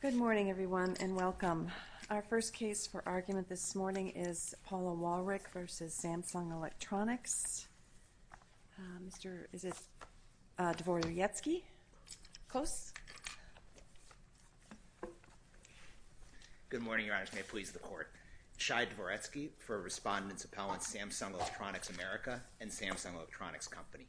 Good morning everyone and welcome. Our first case for argument this morning is Paula Wallrich versus Samsung Electronics. Mr. Dvoretsky, close. Good morning Your Honor, may it please the court. Shai Dvoretsky for Respondents Appellants Samsung Electronics America and Samsung Electronics Company.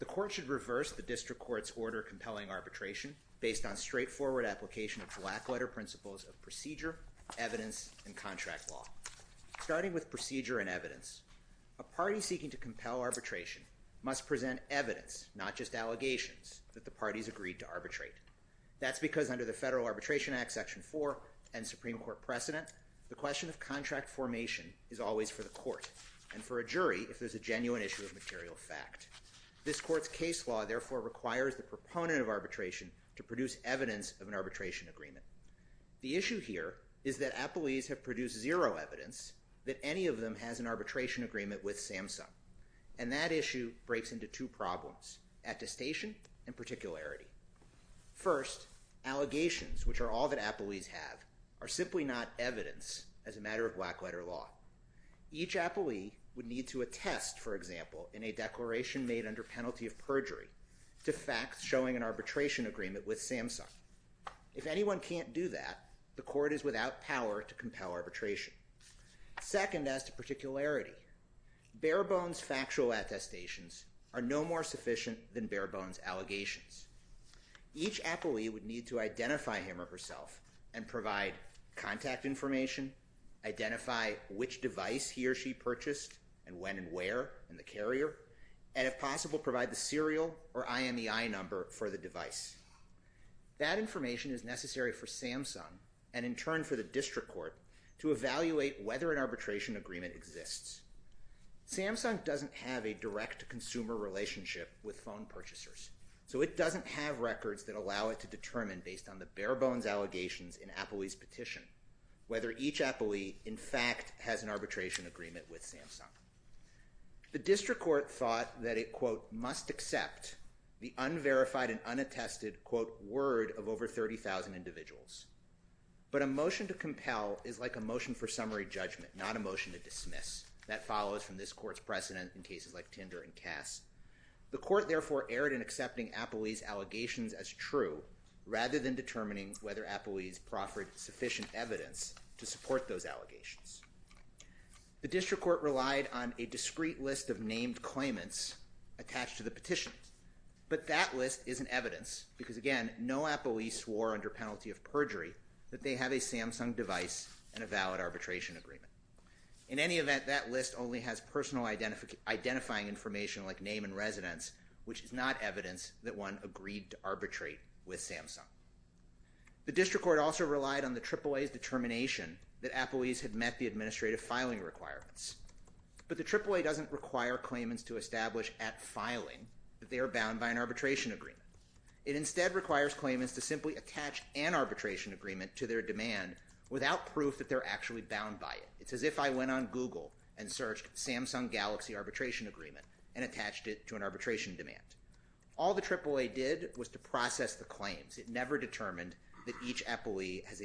The court should reverse the district court's order compelling arbitration based on straightforward application of black letter principles of procedure, evidence, and contract law. Starting with procedure and evidence, a party seeking to compel arbitration must present evidence, not just allegations, that the parties agreed to arbitrate. That's because under the Federal Arbitration Act Section 4 and Supreme Court precedent, the question of contract formation is always for the court and for a jury if there's a genuine issue of material fact. This court's case law therefore requires the proponent of arbitration to produce evidence of an arbitration agreement. The issue here is that appellees have produced zero evidence that any of them has an arbitration agreement with Samsung. And that issue breaks into two problems, attestation and particularity. First, allegations, which are all that appellees have, are simply not evidence as a matter of black letter law. Each appellee would need to attest, for example, in a to facts showing an arbitration agreement with Samsung. If anyone can't do that, the court is without power to compel arbitration. Second, as to particularity, bare bones factual attestations are no more sufficient than bare bones allegations. Each appellee would need to identify him or herself and provide contact information, identify which device he or she purchased and when and where in the carrier, and if possible, provide the IMEI number for the device. That information is necessary for Samsung and in turn for the district court to evaluate whether an arbitration agreement exists. Samsung doesn't have a direct to consumer relationship with phone purchasers, so it doesn't have records that allow it to determine based on the bare bones allegations in appellees petition, whether each appellee in fact has an arbitration agreement with Samsung. The district court thought that it, quote, must accept the unverified and unattested, quote, word of over 30,000 individuals. But a motion to compel is like a motion for summary judgment, not a motion to dismiss. That follows from this court's precedent in cases like Tinder and Cass. The court therefore erred in accepting appellees allegations as true rather than determining whether appellees proffered sufficient evidence to support those allegations. The district court relied on a discrete list of named claimants attached to the petition, but that list isn't evidence because, again, no appellee swore under penalty of perjury that they have a Samsung device and a valid arbitration agreement. In any event, that list only has personal identifying information like name and residence, which is not evidence that one agreed to arbitrate with Samsung. The district court also relied on the AAA's determination that appellees had met the But the AAA doesn't require claimants to establish at filing that they are bound by an arbitration agreement. It instead requires claimants to simply attach an arbitration agreement to their demand without proof that they're actually bound by it. It's as if I went on Google and searched Samsung Galaxy arbitration agreement and attached it to an arbitration demand. All the AAA did was to process the claims. It never determined that each appellee has a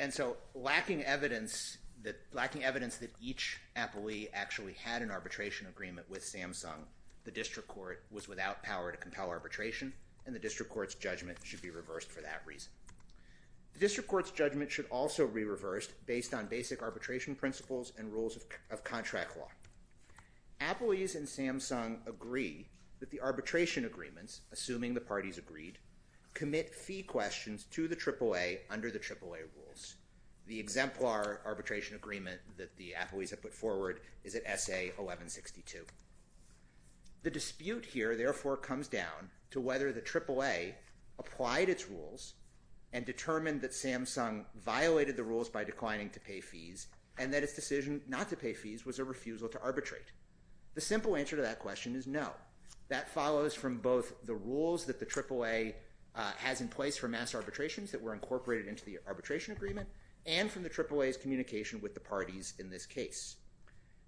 And so, lacking evidence that each appellee actually had an arbitration agreement with Samsung, the district court was without power to compel arbitration, and the district court's judgment should be reversed for that reason. The district court's judgment should also be reversed based on basic arbitration principles and rules of contract law. Appellees and Samsung agree that the arbitration agreements, assuming the parties agreed, commit fee questions to the AAA under the AAA rules. The exemplar arbitration agreement that the appellees have put forward is at S.A. 1162. The dispute here, therefore, comes down to whether the AAA applied its rules and determined that Samsung violated the rules by declining to pay fees and that its decision not to pay fees was a refusal to arbitrate. The simple answer to that question is no. That follows from both the rules that the AAA has in place for mass arbitrations that were incorporated into the arbitration agreement and from the AAA's communication with the parties in this case.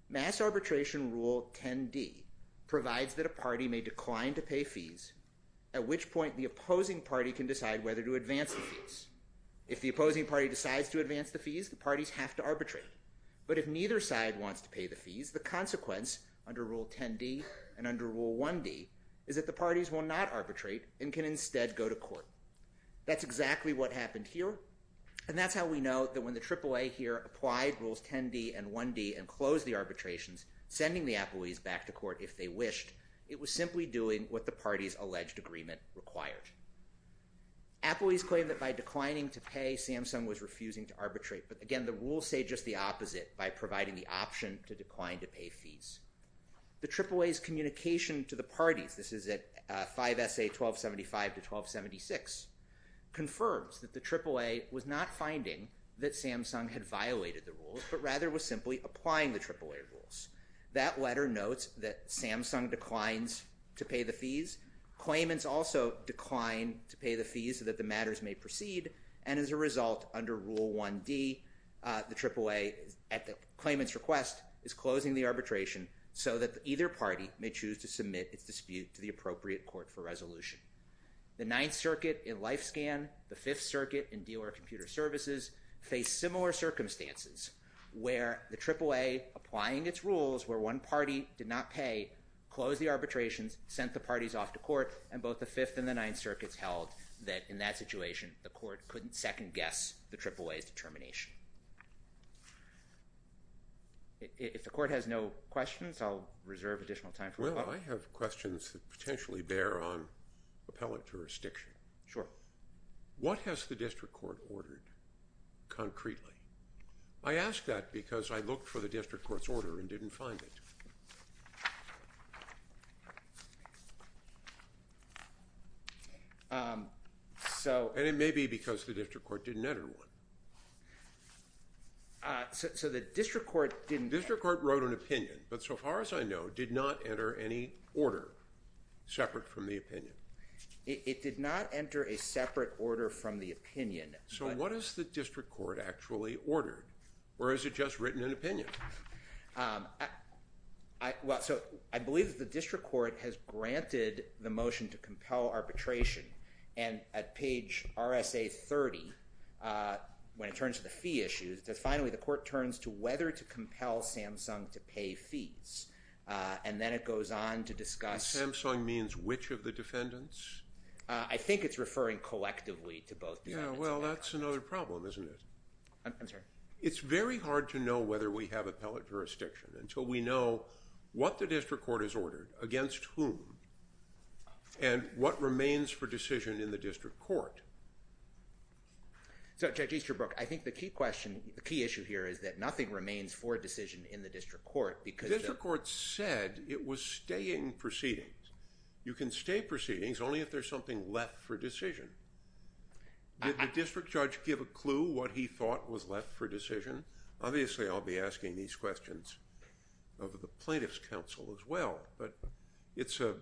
Mass arbitration Rule 10d provides that a party may decline to pay fees, at which point the opposing party can decide whether to advance the fees. If the opposing party decides to advance the fees, the parties have to arbitrate. But if neither side wants to pay the fees, the consequence under Rule 10d and under Rule 1d is that the parties will not arbitrate and can instead go to court. That's exactly what happened here, and that's how we know that when the AAA here applied Rules 10d and 1d and closed the arbitrations, sending the appellees back to court if they wished, it was simply doing what the party's alleged agreement required. Appellees claim that by declining to pay, Samsung was refusing to arbitrate. But again, the rules say just the opposite by providing the option to decline to pay fees. The AAA's communication to the parties, this is at 5 SA 1275 to 1276, confirms that the AAA was not finding that Samsung had violated the rules, but rather was simply applying the AAA rules. That letter notes that Samsung declines to pay the fees. Claimants also decline to pay the fees so that the matters may proceed, and as a result under Rule 1d, the AAA at the claimant's request is closing the arbitration so that either party may choose to submit its dispute to the appropriate court for resolution. The Ninth Circuit in LifeScan, the Fifth Circuit in Dealer Computer Services, faced similar circumstances where the AAA, applying its rules where one party did not pay, closed the arbitrations, sent the parties off to court, and both the Fifth and the Ninth Circuits held that in that situation the court couldn't second-guess the AAA's determination. If the court has no questions, I'll reserve additional time. Well, I have questions that potentially bear on appellate jurisdiction. Sure. What has the district court ordered concretely? I ask that because I looked for the district court's order and didn't find it. So... And it may be because the district court didn't enter one. So the district court didn't... The district court wrote an opinion, but so far as I know, did not enter any order separate from the opinion. It did not enter a separate order from the opinion. So what is the district court actually ordered, or has it just written an opinion? Well, so I believe that the district court has granted the motion to compel arbitration, and at page RSA 30, when it turns to the fee issues, that finally the court turns to whether to compel Samsung to pay fees, and then it goes on to discuss... Samsung means which of the defendants? I think it's referring collectively to both. Yeah, well that's another problem, isn't it? I'm sorry? It's very hard to know whether we have appellate jurisdiction until we know what the district court has ordered, against whom, and what remains for decision in the district court. So Judge Easterbrook, I think the key question, the key issue here is that nothing remains for decision in the district court because... The district court said it was staying proceedings. You can stay proceedings only if there's something left for decision. Did the district judge give a clue what he thought was left for decision? Obviously, I'll be asking these questions of the plaintiff's counsel as well, but it's the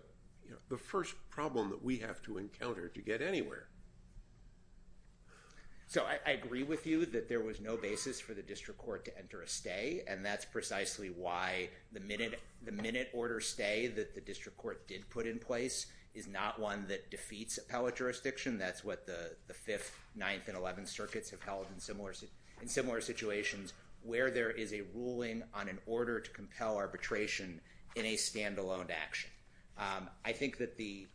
first problem that we have to encounter to get anywhere. So I agree with you that there was no basis for the district court to enter a stay, and that's precisely why the minute order stay that the district court did put in place is not one that defeats appellate jurisdiction. That's what the 5th, 9th, and 11th circuits have held in similar situations, where there is a ruling on an order to compel arbitration in a standalone action. I think that the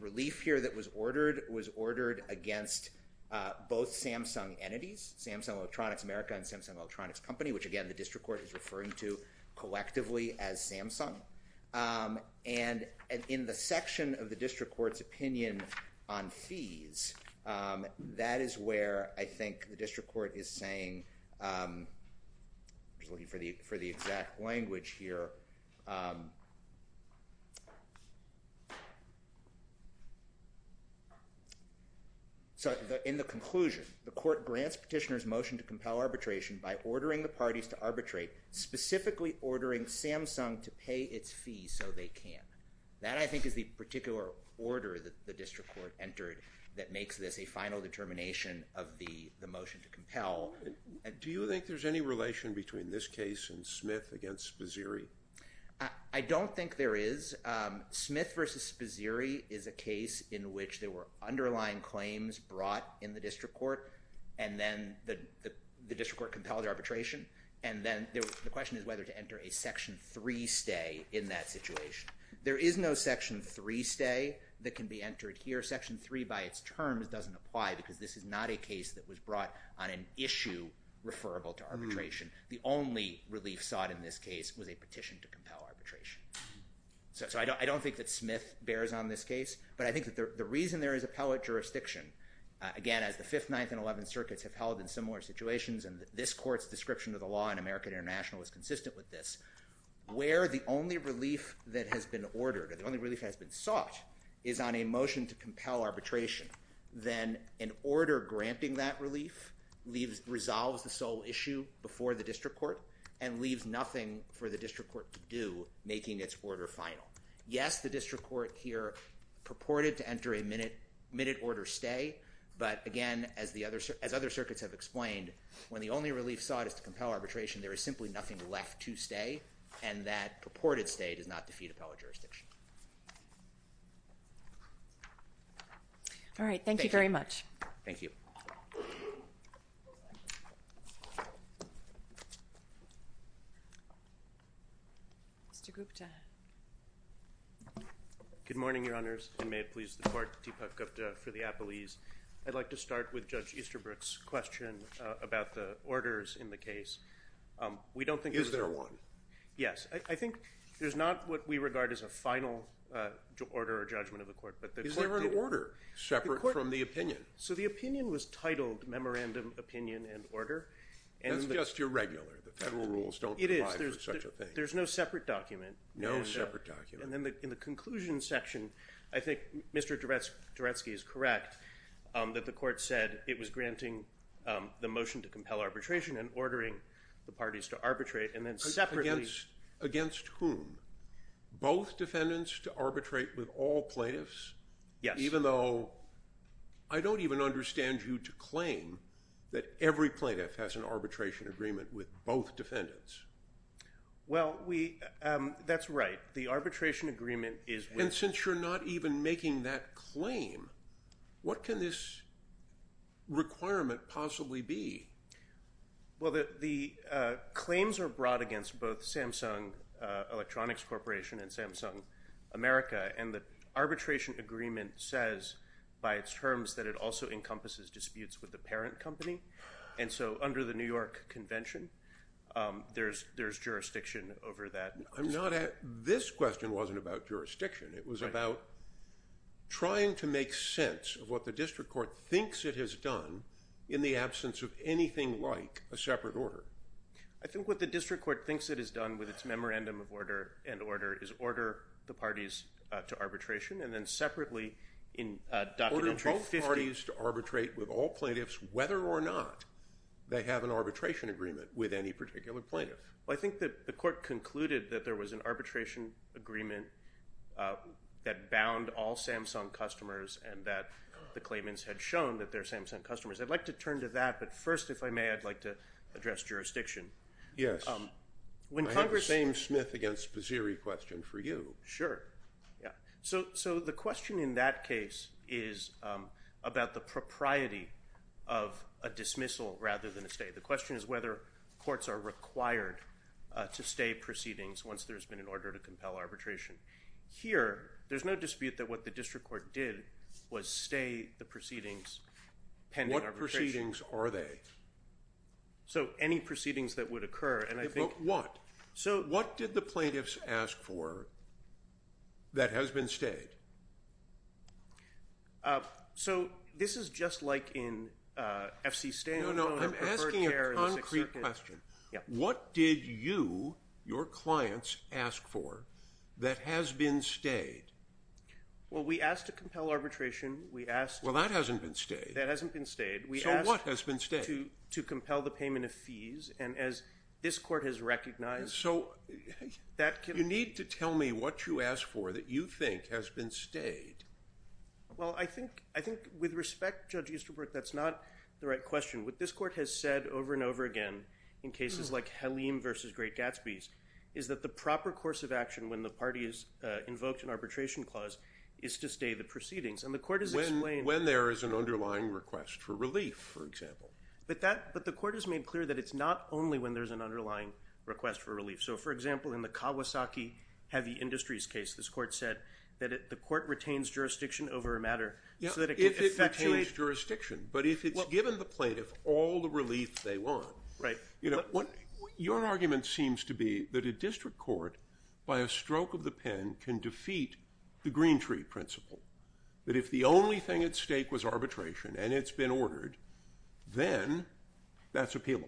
relief here that was ordered was ordered against both Samsung entities, Samsung Electronics America and Samsung Electronics Company, which again the district court is referring to collectively as Samsung. And in the section of the district court's opinion on fees, that is where I think the district court is saying, I was looking for the exact language here, so in the conclusion, the court grants petitioners motion to compel arbitration by ordering the parties to arbitrate, specifically ordering Samsung to pay its fees so they can. That I think is the particular order that the district court entered that makes this a final determination of the the motion to compel. Do you think there's any relation between this case and Smith against Sposiri? I don't think there is. Smith versus Sposiri is a case in which there were underlying claims brought in the district court, and then the district court compelled arbitration, and then the question is whether to enter a section 3 stay in that situation. There is no section 3 stay that can be entered here. Section 3 by its terms doesn't apply because this is not a case that was brought on an issue referable to arbitration. The only relief sought in this case was a petition to compel arbitration. So I don't think that Smith bears on this case, but I think that the reason there is appellate jurisdiction, again as the 5th, 9th, and 11th circuits have held in similar situations, and this court's description of the law in American International is consistent with this, where the only relief that has been sought is on a motion to compel arbitration, then an order granting that relief resolves the sole issue before the district court and leaves nothing for the district court to do, making its order final. Yes, the district court here purported to enter a minute order stay, but again, as the other circuits have explained, when the only relief sought is to compel arbitration, there is simply nothing left to stay, and that purported stay does not defeat appellate jurisdiction. All right, thank you very much. Thank you. Mr. Gupta. Good morning, Your Honors, and may it please the Court, Deepak Gupta for the appellees. I'd like to start with Judge Easterbrook's question about the final order or judgment of the court. Is there an order separate from the opinion? So the opinion was titled Memorandum, Opinion, and Order. That's just irregular. The federal rules don't apply for such a thing. There's no separate document. No separate document. And then in the conclusion section, I think Mr. Duretsky is correct, that the court said it was granting the motion to compel arbitration and ordering the parties to arbitrate, and then separately... Against whom? Both defendants to arbitrate with all plaintiffs? Yes. Even though I don't even understand you to claim that every plaintiff has an arbitration agreement with both defendants. Well, that's right. The arbitration agreement is... And since you're not even making that claim, what can this requirement possibly be? Well, the claims are brought against both Samsung Electronics Corporation and Samsung America, and the arbitration agreement says by its terms that it also encompasses disputes with the parent company. And so under the New York Convention, there's jurisdiction over that. I'm not at... This question wasn't about jurisdiction. It was about trying to make sense of what the district court thinks it has done in the absence of anything like a separate order. I think what the district court thinks it has done with its memorandum of order and order is order the parties to arbitration, and then separately in... Order both parties to arbitrate with all plaintiffs whether or not they have an arbitration agreement with any particular plaintiff. Well, I think that the court concluded that there was an arbitration agreement that bound all Samsung customers, and that the claimants had shown that they're Samsung customers. I'd like to turn to that, but first, if I may, I'd like to address jurisdiction. Yes. When Congress... I have the same Smith against Paziri question for you. Sure. Yeah. So the question in that case is about the propriety of a dismissal rather than a stay. The question is whether courts are required to stay proceedings once there's been an order to compel arbitration. Here, there's no dispute that what the district court did was stay the So any proceedings that would occur, and I think... What? So what did the plaintiffs ask for that has been stayed? So this is just like in FC Stanton... No, no, I'm asking a concrete question. What did you, your clients, ask for that has been stayed? Well, we asked to compel arbitration. We asked... Well, that hasn't been stayed. That hasn't been stayed. We asked to compel the payment of fees, and as this court has recognized... So you need to tell me what you asked for that you think has been stayed. Well, I think with respect, Judge Easterbrook, that's not the right question. What this court has said over and over again in cases like Halim v. Great Gatsby's is that the proper course of action when the party is invoked an arbitration clause is to stay the proceedings, and the court has explained... When there is an underlying request for relief, for example. But that, but the court has made clear that it's not only when there's an underlying request for relief. So, for example, in the Kawasaki Heavy Industries case, this court said that the court retains jurisdiction over a matter so that it can effectuate... Yeah, if it retains jurisdiction, but if it's given the plaintiff all the relief they want... Right. You know, what your argument seems to be that a district court, by a stroke of the pen, can defeat the green tree principle. That if the only thing at stake was arbitration, and it's been ordered, then that's appealable.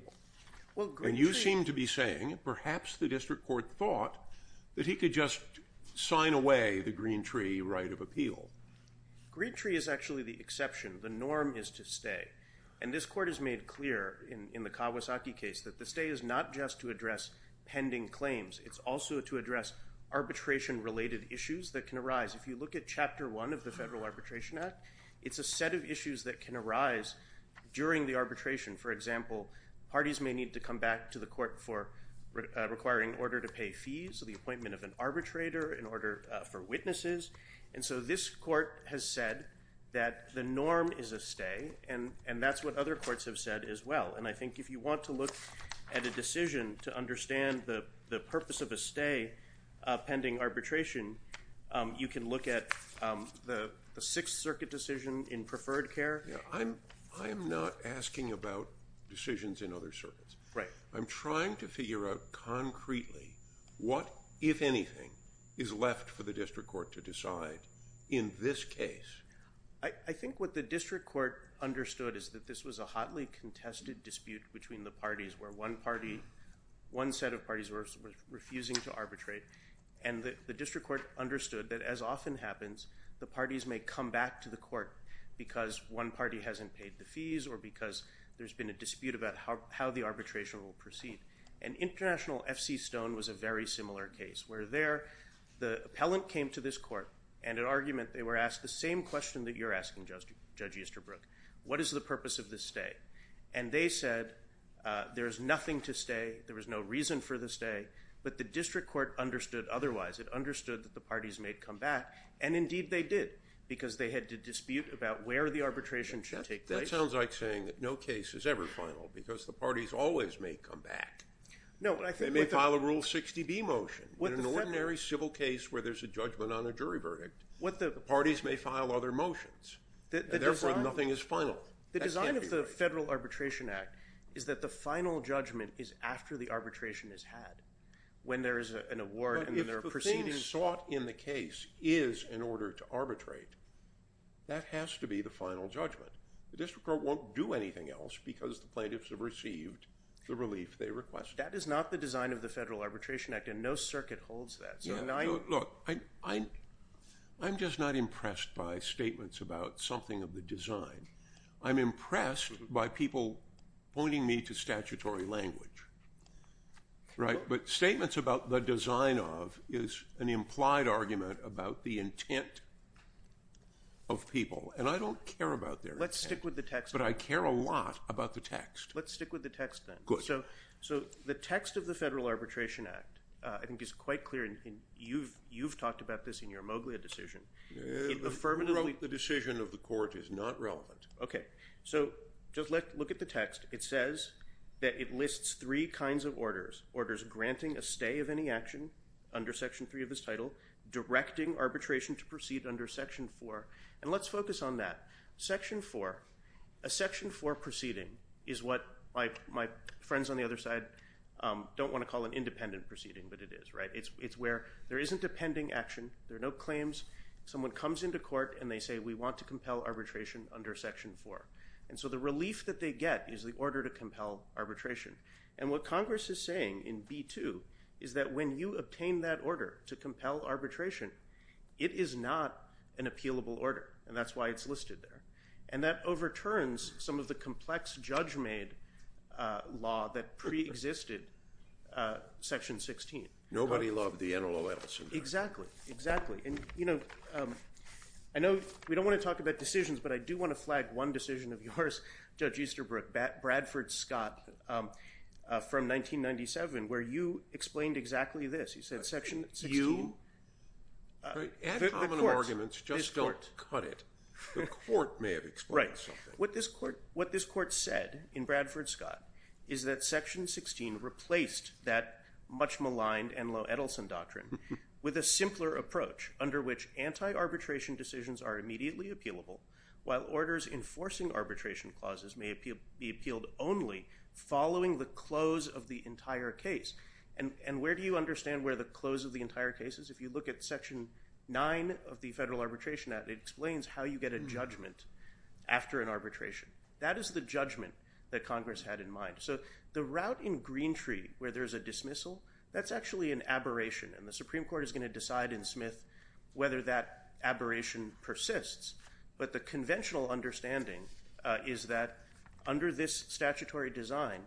And you seem to be saying perhaps the district court thought that he could just sign away the green tree right of appeal. Green tree is actually the exception. The norm is to stay, and this court has made clear in the Kawasaki case that the stay is not just to address pending claims. It's also to address arbitration-related issues that can arise. If you look at Chapter 1 of the Federal Arbitration Act, it's a set of issues that can arise during the arbitration. For example, parties may need to come back to the court for requiring order to pay fees, the appointment of an arbitrator, an order for witnesses. And so this court has said that the norm is a stay, and that's what other courts have said as well. And I think if you want to look at a decision to stay pending arbitration, you can look at the Sixth Circuit decision in preferred care. I'm not asking about decisions in other circuits. Right. I'm trying to figure out concretely what, if anything, is left for the district court to decide in this case. I think what the district court understood is that this was a hotly contested dispute between the parties, where one party, one set of arbitrate, and the district court understood that, as often happens, the parties may come back to the court because one party hasn't paid the fees or because there's been a dispute about how the arbitration will proceed. An international F.C. Stone was a very similar case, where there, the appellant came to this court, and in argument they were asked the same question that you're asking, Judge Easterbrook. What is the purpose of this stay? And they said there is nothing to stay, there was no reason for the stay, but the district court understood otherwise. It understood that the parties may come back, and indeed they did, because they had to dispute about where the arbitration should take place. That sounds like saying that no case is ever final, because the parties always may come back. No. They may file a Rule 60B motion. In an ordinary civil case where there's a judgment on a jury verdict, the parties may file other motions. Therefore, nothing is final. The design of the Federal Arbitration Act is that the final judgment is after the arbitration is had, when there is an award and there are proceedings. If the thing sought in the case is in order to arbitrate, that has to be the final judgment. The district court won't do anything else because the plaintiffs have received the relief they requested. That is not the design of the Federal Arbitration Act, and no circuit holds that. Look, I'm just not impressed by statements about something of the design. I'm impressed by people pointing me to statutory language, right? But statements about the design of is an implied argument about the intent of people, and I don't care about their intent. Let's stick with the text. But I care a lot about the text. Let's stick with the text, then. Good. So the text of the Federal Arbitration Act, I think, is quite clear, and you've talked about this in your Moglia decision. Affirmatively, the decision of the court is not relevant. Okay, so just look at the text. It says that it lists three kinds of orders. Orders granting a stay of any action under Section 3 of this title, directing arbitration to proceed under Section 4, and let's focus on that. Section 4, a Section 4 proceeding is what my friends on the other side don't want to call an independent proceeding, but it is, right? It's where there isn't a case, someone comes into court, and they say, we want to compel arbitration under Section 4. And so the relief that they get is the order to compel arbitration. And what Congress is saying in B-2 is that when you obtain that order to compel arbitration, it is not an appealable order, and that's why it's listed there. And that overturns some of the complex, judge-made law that I know we don't want to talk about decisions, but I do want to flag one decision of yours, Judge Easterbrook. Bradford Scott from 1997, where you explained exactly this. He said Section 16... Ad hominem arguments just don't cut it. The court may have explained something. What this court said in Bradford Scott is that Section 16 replaced that much maligned and low anti-arbitration decisions are immediately appealable, while orders enforcing arbitration clauses may be appealed only following the close of the entire case. And where do you understand where the close of the entire case is? If you look at Section 9 of the Federal Arbitration Act, it explains how you get a judgment after an arbitration. That is the judgment that Congress had in mind. So the route in Greentree where there's a dismissal, that's actually an abberation. I don't know, Judge Smith, whether that aberration persists, but the conventional understanding is that under this statutory design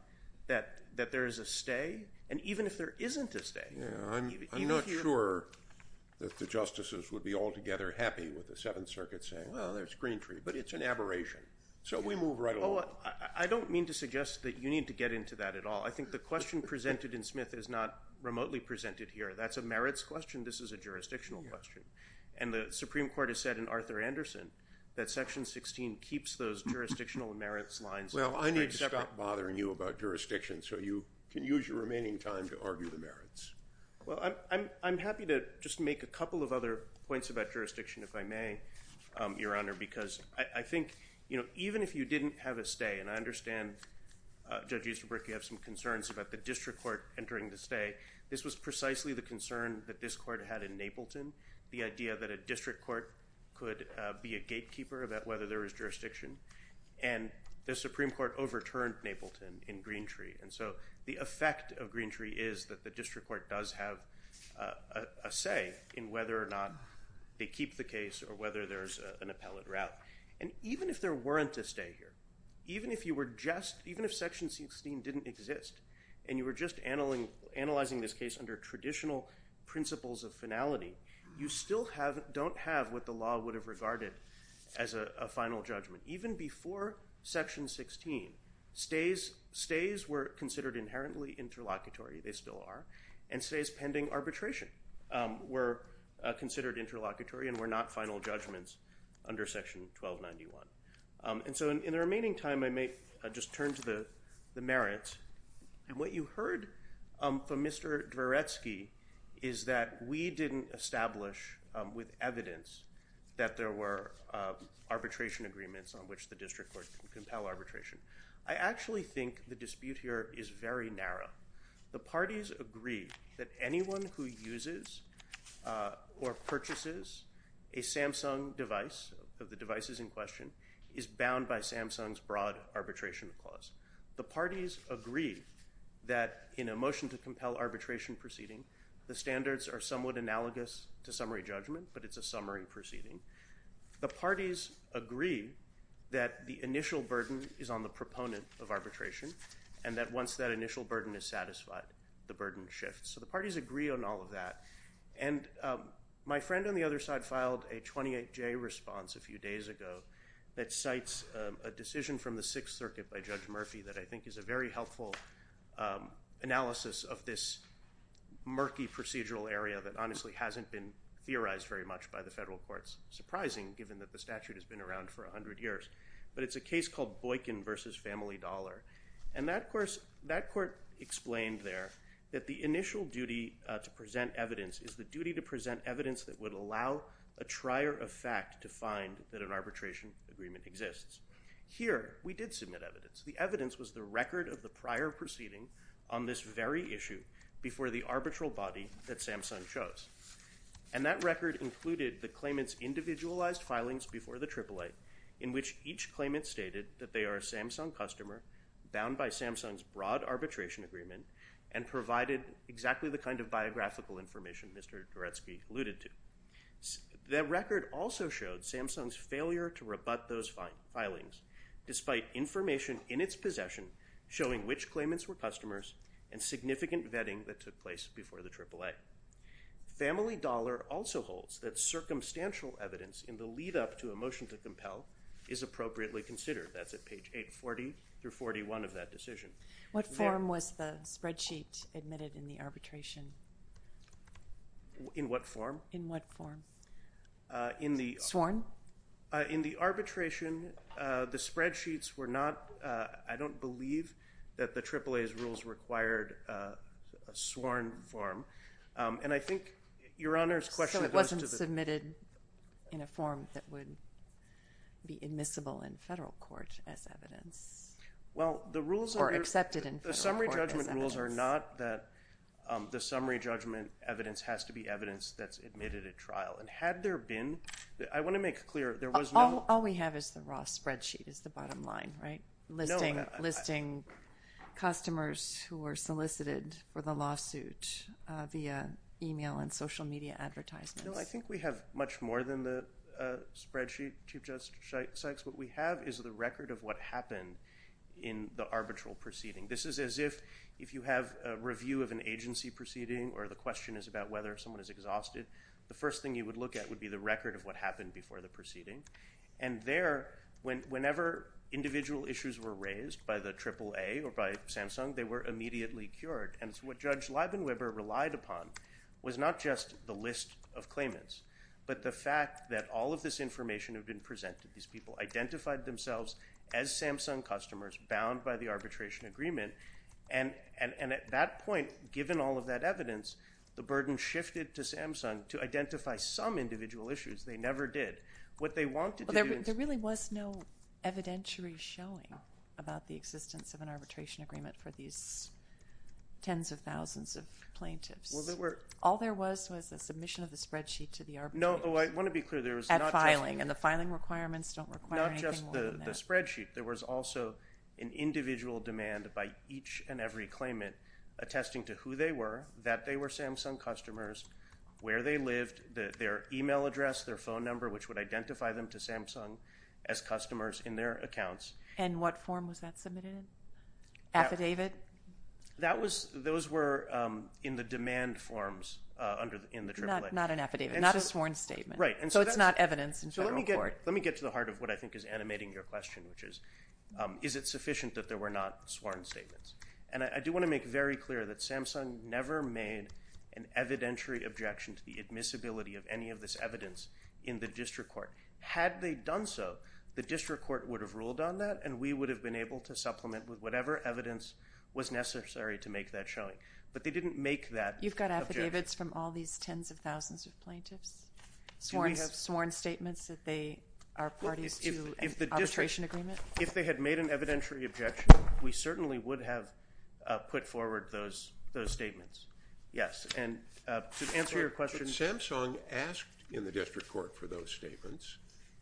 that there is a stay, and even if there isn't a stay... I'm not sure that the justices would be altogether happy with the Seventh Circuit saying, well, there's Greentree, but it's an aberration. So we move right along. I don't mean to suggest that you need to get into that at all. I think the question presented in Smith is not a jurisdictional question. And the Supreme Court has said in Arthur Anderson that Section 16 keeps those jurisdictional merits lines... Well, I need to stop bothering you about jurisdiction so you can use your remaining time to argue the merits. Well, I'm happy to just make a couple of other points about jurisdiction, if I may, Your Honor, because I think, you know, even if you didn't have a stay, and I understand, Judge Easterbrook, you have some concerns about the district court entering the stay. This was precisely the concern that this court had in Napleton, the idea that a district court could be a gatekeeper about whether there is jurisdiction. And the Supreme Court overturned Napleton in Greentree. And so the effect of Greentree is that the district court does have a say in whether or not they keep the case or whether there's an appellate route. And even if there weren't a stay here, even if you were just... even if Section 16 didn't exist, and you were just analyzing this case under traditional principles of finality, you still don't have what the law would have regarded as a final judgment. Even before Section 16, stays were considered inherently interlocutory. They still are. And stays pending arbitration were considered interlocutory and were not final judgments under Section 1291. And so in the remaining time, I may just turn to the merits. And what you heard from Mr. Dvoretsky is that we didn't establish with evidence that there were arbitration agreements on which the district court can compel arbitration. I actually think the dispute here is very narrow. The parties agree that anyone who uses or purchases a Samsung device, of the devices in question, is bound by in a motion to compel arbitration proceeding. The standards are somewhat analogous to summary judgment, but it's a summary proceeding. The parties agree that the initial burden is on the proponent of arbitration, and that once that initial burden is satisfied, the burden shifts. So the parties agree on all of that. And my friend on the other side filed a 28-J response a few days ago that cites a decision from the Sixth Circuit by Judge Murphy that I think is a very helpful analysis of this murky procedural area that honestly hasn't been theorized very much by the federal courts. Surprising, given that the statute has been around for a hundred years. But it's a case called Boykin v. Family Dollar. And that court explained there that the initial duty to present evidence is the duty to present evidence that would allow a trier of fact to find that an arbitration agreement exists. Here, we did submit evidence. The evidence was the record of the prior proceeding on this very issue before the arbitral body that Samsung chose. And that record included the claimants' individualized filings before the Triple Eight, in which each claimant stated that they are a Samsung customer, bound by Samsung's broad arbitration agreement, and provided exactly the kind of biographical information Mr. Gretzky alluded to. That record also showed Samsung's failure to rebut those filings, despite information in its possession showing which claimants were customers, and significant vetting that took place before the Triple Eight. Family Dollar also holds that circumstantial evidence in the lead-up to a motion to compel is appropriately considered. That's at page 840 through 841 of that decision. What form was the spreadsheet admitted in the arbitration? In what form? In the... Sworn? In the arbitration, the spreadsheets were not... I don't believe that the Triple Eight's rules required a sworn form. And I think Your Honor's question... So it wasn't submitted in a form that would be admissible in federal court as evidence? Well, the rules... Or accepted in federal court as evidence? The summary judgment rules are not that the summary judgment evidence has to be evidence that's admitted at trial. And had there been... I want to make clear, there was no... All we have is the raw spreadsheet is the bottom line, right? Listing... Listing customers who were solicited for the lawsuit via email and social media advertisements. No, I think we have much more than the spreadsheet, Chief Justice Sykes. What we have is the record of what happened in the arbitral proceeding. This is as if... If you have a agency proceeding or the question is about whether someone is exhausted, the first thing you would look at would be the record of what happened before the proceeding. And there, whenever individual issues were raised by the Triple A or by Samsung, they were immediately cured. And it's what Judge Leibenweber relied upon was not just the list of claimants, but the fact that all of this information had been presented. These people identified themselves as Samsung customers bound by the arbitration agreement. And at that point, given all of that evidence, the burden shifted to Samsung to identify some individual issues. They never did. What they wanted... There really was no evidentiary showing about the existence of an arbitration agreement for these tens of thousands of plaintiffs. Well, there were... All there was was a submission of the spreadsheet to the arbitrator. No, I want to be clear, there was not... At filing. And the filing requirements don't require anything more than that. Not just the spreadsheet. There was also an individual demand by each and every claimant attesting to who they were, that they were Samsung customers, where they lived, their email address, their phone number, which would identify them to Samsung as customers in their accounts. And what form was that submitted in? Affidavit? That was... Those were in the demand forms under... In the Triple A. Not an affidavit. Not a sworn statement. Right. And so it's not evidence in federal court. Let me get to the heart of what I think is sufficient that there were not sworn statements. And I do want to make very clear that Samsung never made an evidentiary objection to the admissibility of any of this evidence in the district court. Had they done so, the district court would have ruled on that and we would have been able to supplement with whatever evidence was necessary to make that showing. But they didn't make that... You've got affidavits from all these tens of thousands of plaintiffs? Do we have sworn statements that they are parties to an arbitration agreement? If they had made an evidentiary objection, we certainly would have put forward those statements. Yes. And to answer your question... Samsung asked in the district court for those statements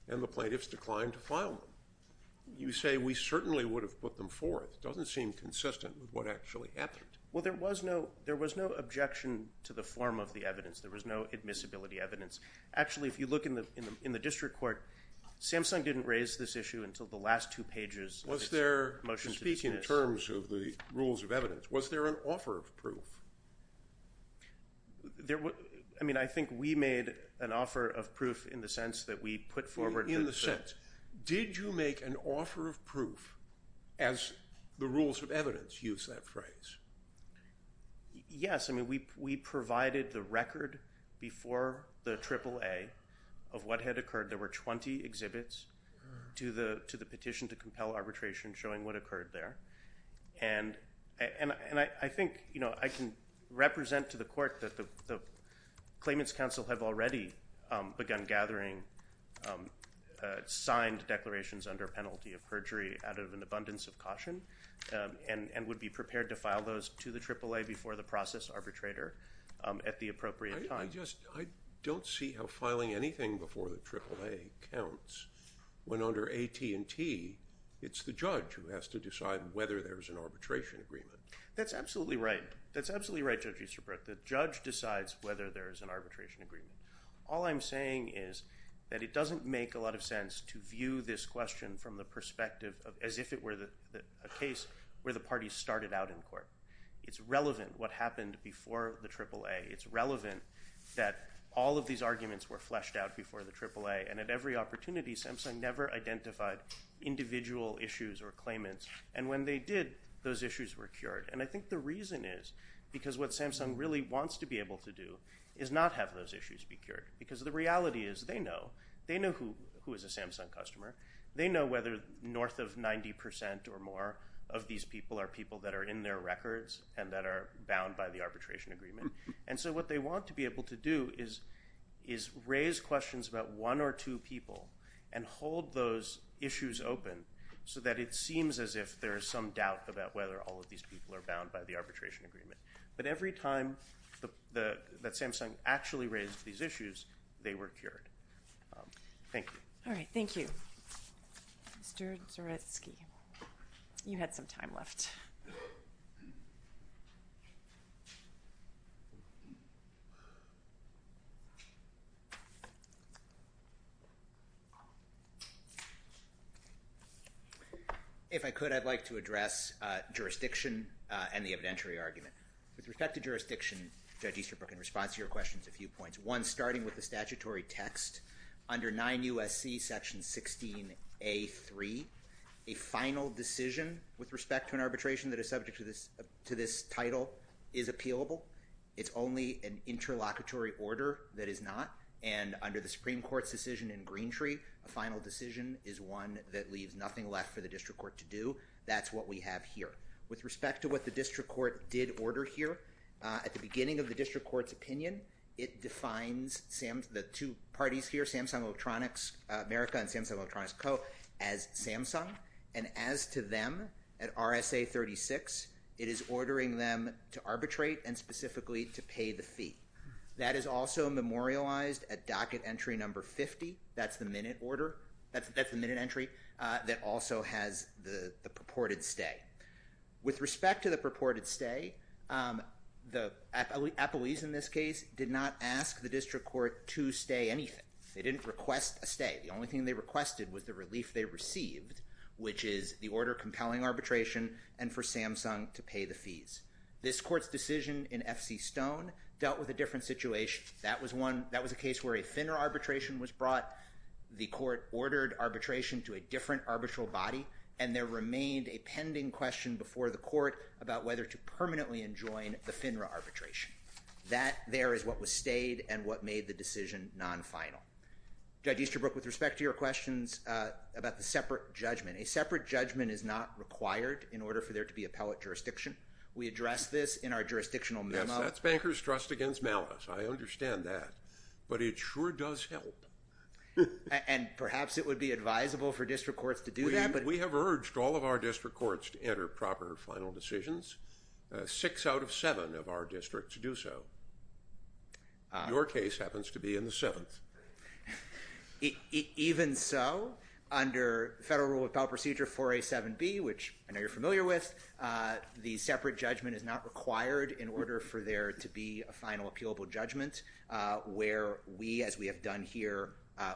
and the plaintiffs declined to file them. You say we certainly would have put them forward. It doesn't seem consistent with what actually happened. Well, there was no objection to the form of the evidence. There was no admissibility evidence. Actually, if you look in the district court, Samsung didn't raise this issue until the last two pages. Speaking in terms of the rules of evidence, was there an offer of proof? I mean, I think we made an offer of proof in the sense that we put forward... In the sense, did you make an offer of proof as the rules of evidence use that phrase? Yes. I mean, we provided the record before the petition to compel arbitration showing what occurred there. And I think, you know, I can represent to the court that the Claimants Council have already begun gathering signed declarations under penalty of perjury out of an abundance of caution and would be prepared to file those to the AAA before the process arbitrator at the appropriate time. I just don't see how for AT&T, it's the judge who has to decide whether there's an arbitration agreement. That's absolutely right. That's absolutely right, Judge Easterbrook. The judge decides whether there is an arbitration agreement. All I'm saying is that it doesn't make a lot of sense to view this question from the perspective of as if it were a case where the parties started out in court. It's relevant what happened before the AAA. It's relevant that all of these arguments were fleshed out before the AAA and at every opportunity, Samsung never identified individual issues or claimants. And when they did, those issues were cured. And I think the reason is because what Samsung really wants to be able to do is not have those issues be cured. Because the reality is they know. They know who is a Samsung customer. They know whether north of 90% or more of these people are people that are in their records and that are bound by the arbitration agreement. And so what they want to be able to do is raise questions about one or two people and hold those issues open so that it seems as if there is some doubt about whether all of these people are bound by the arbitration agreement. But every time that Samsung actually raised these issues, they were cured. Thank you. All right, thank you. Mr. Zaretsky, you had some time left. If I could, I'd like to address jurisdiction and the evidentiary argument. With respect to jurisdiction, Judge Easterbrook, in response to your questions, a few points. One, starting with the statutory text under 9 U.S.C. section 16A.3, a final decision with respect to an arbitration that is subject to this title is appealable. It's only an interlocutory order that is not. And under the Supreme Court's decision in Greentree, a final decision is one that leaves nothing left for the district court to do. That's what we have here. With respect to what the district court did order here, at the beginning of the district court's opinion, it defines the two parties here, Samsung Electronics America and Samsung Electronics Co., as Samsung. And as to them at RSA 36, it is ordering them to arbitrate and specifically to pay the fees. It's also memorialized at docket entry number 50, that's the minute order, that's the minute entry, that also has the purported stay. With respect to the purported stay, the appellees in this case did not ask the district court to stay anything. They didn't request a stay. The only thing they requested was the relief they received, which is the order compelling arbitration and for Samsung to pay the fees. This court's decision in F.C. Stone dealt with a different situation. That was one, that was a case where a FINRA arbitration was brought, the court ordered arbitration to a different arbitral body, and there remained a pending question before the court about whether to permanently enjoin the FINRA arbitration. That there is what was stayed and what made the decision non-final. Judge Easterbrook, with respect to your questions about the separate judgment, a separate judgment is not required in order for there to be appellate jurisdiction. We addressed this in our jurisdictional memo. Yes, that's bankers' trust against malice, I understand that, but it sure does help. And perhaps it would be advisable for district courts to do that? We have urged all of our district courts to enter proper final decisions. Six out of seven of our districts do so. Your case happens to be in the seventh. Even so, under federal rule of appellate procedure 4A7B, which I know you're familiar with, the final appealable judgment, where we, as we have done here,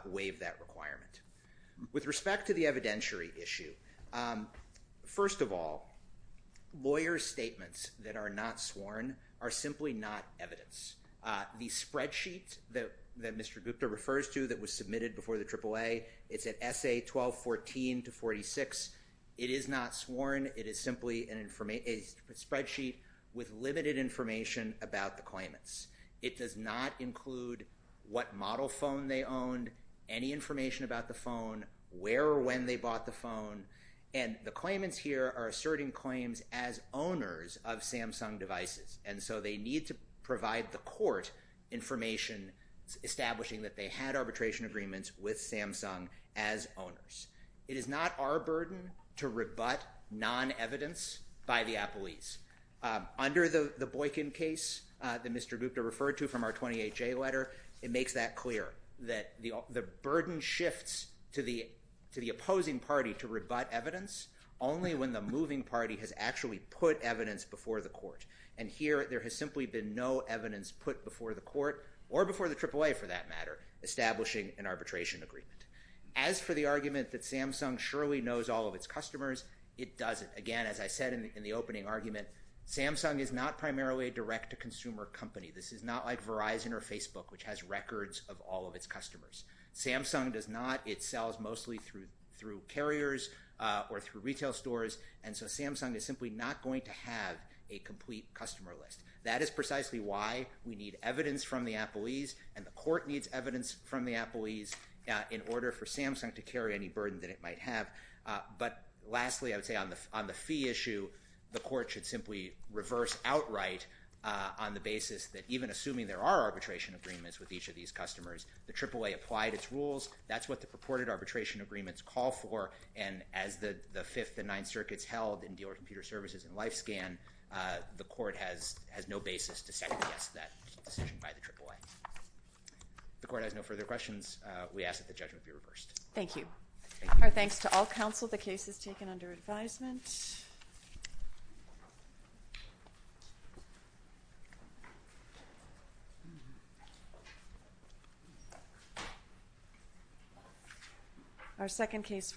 waive that requirement. With respect to the evidentiary issue, first of all, lawyers' statements that are not sworn are simply not evidence. The spreadsheet that Mr. Gupta refers to that was submitted before the AAA, it's at SA 1214-46, it is not sworn, it is simply a spreadsheet with limited information about the claimants. It does not include what model phone they owned, any information about the phone, where or when they bought the phone, and the claimants here are asserting claims as owners of Samsung devices, and so they need to provide the court information establishing that they had arbitration agreements with Samsung as owners. It is not our burden to rebut non-evidence by the appellees. Under the Boykin case that Mr. Gupta referred to from our 28J letter, it makes that clear, that the burden shifts to the opposing party to rebut evidence only when the moving party has actually put evidence before the court, and here there has simply been no evidence put before the court, or before the AAA for that matter, establishing an arbitration agreement. As for the argument that Samsung surely knows all of its customers, it doesn't. Again, as I said in the opening argument, Samsung is not primarily a direct-to-consumer company. This is not like Verizon or Facebook, which has records of all of its customers. Samsung does not. It sells mostly through through carriers or through retail stores, and so Samsung is simply not going to have a complete customer list. That is precisely why we need evidence from the appellees, and the court needs evidence from the appellees in order for Samsung to carry any burden that it might have. But lastly, I would say on the fee issue, the court should simply reverse outright on the basis that even assuming there are arbitration agreements with each of these customers, the AAA applied its rules. That's what the purported arbitration agreements call for, and as the Fifth and Ninth Circuits held in Dealer Computer Services and LifeScan, the court has no basis to second-guess that decision by the AAA. The court has no other questions. We ask that the judgment be reversed. Thank you. Our thanks to all counsel. The case is taken under advisement. Our second case for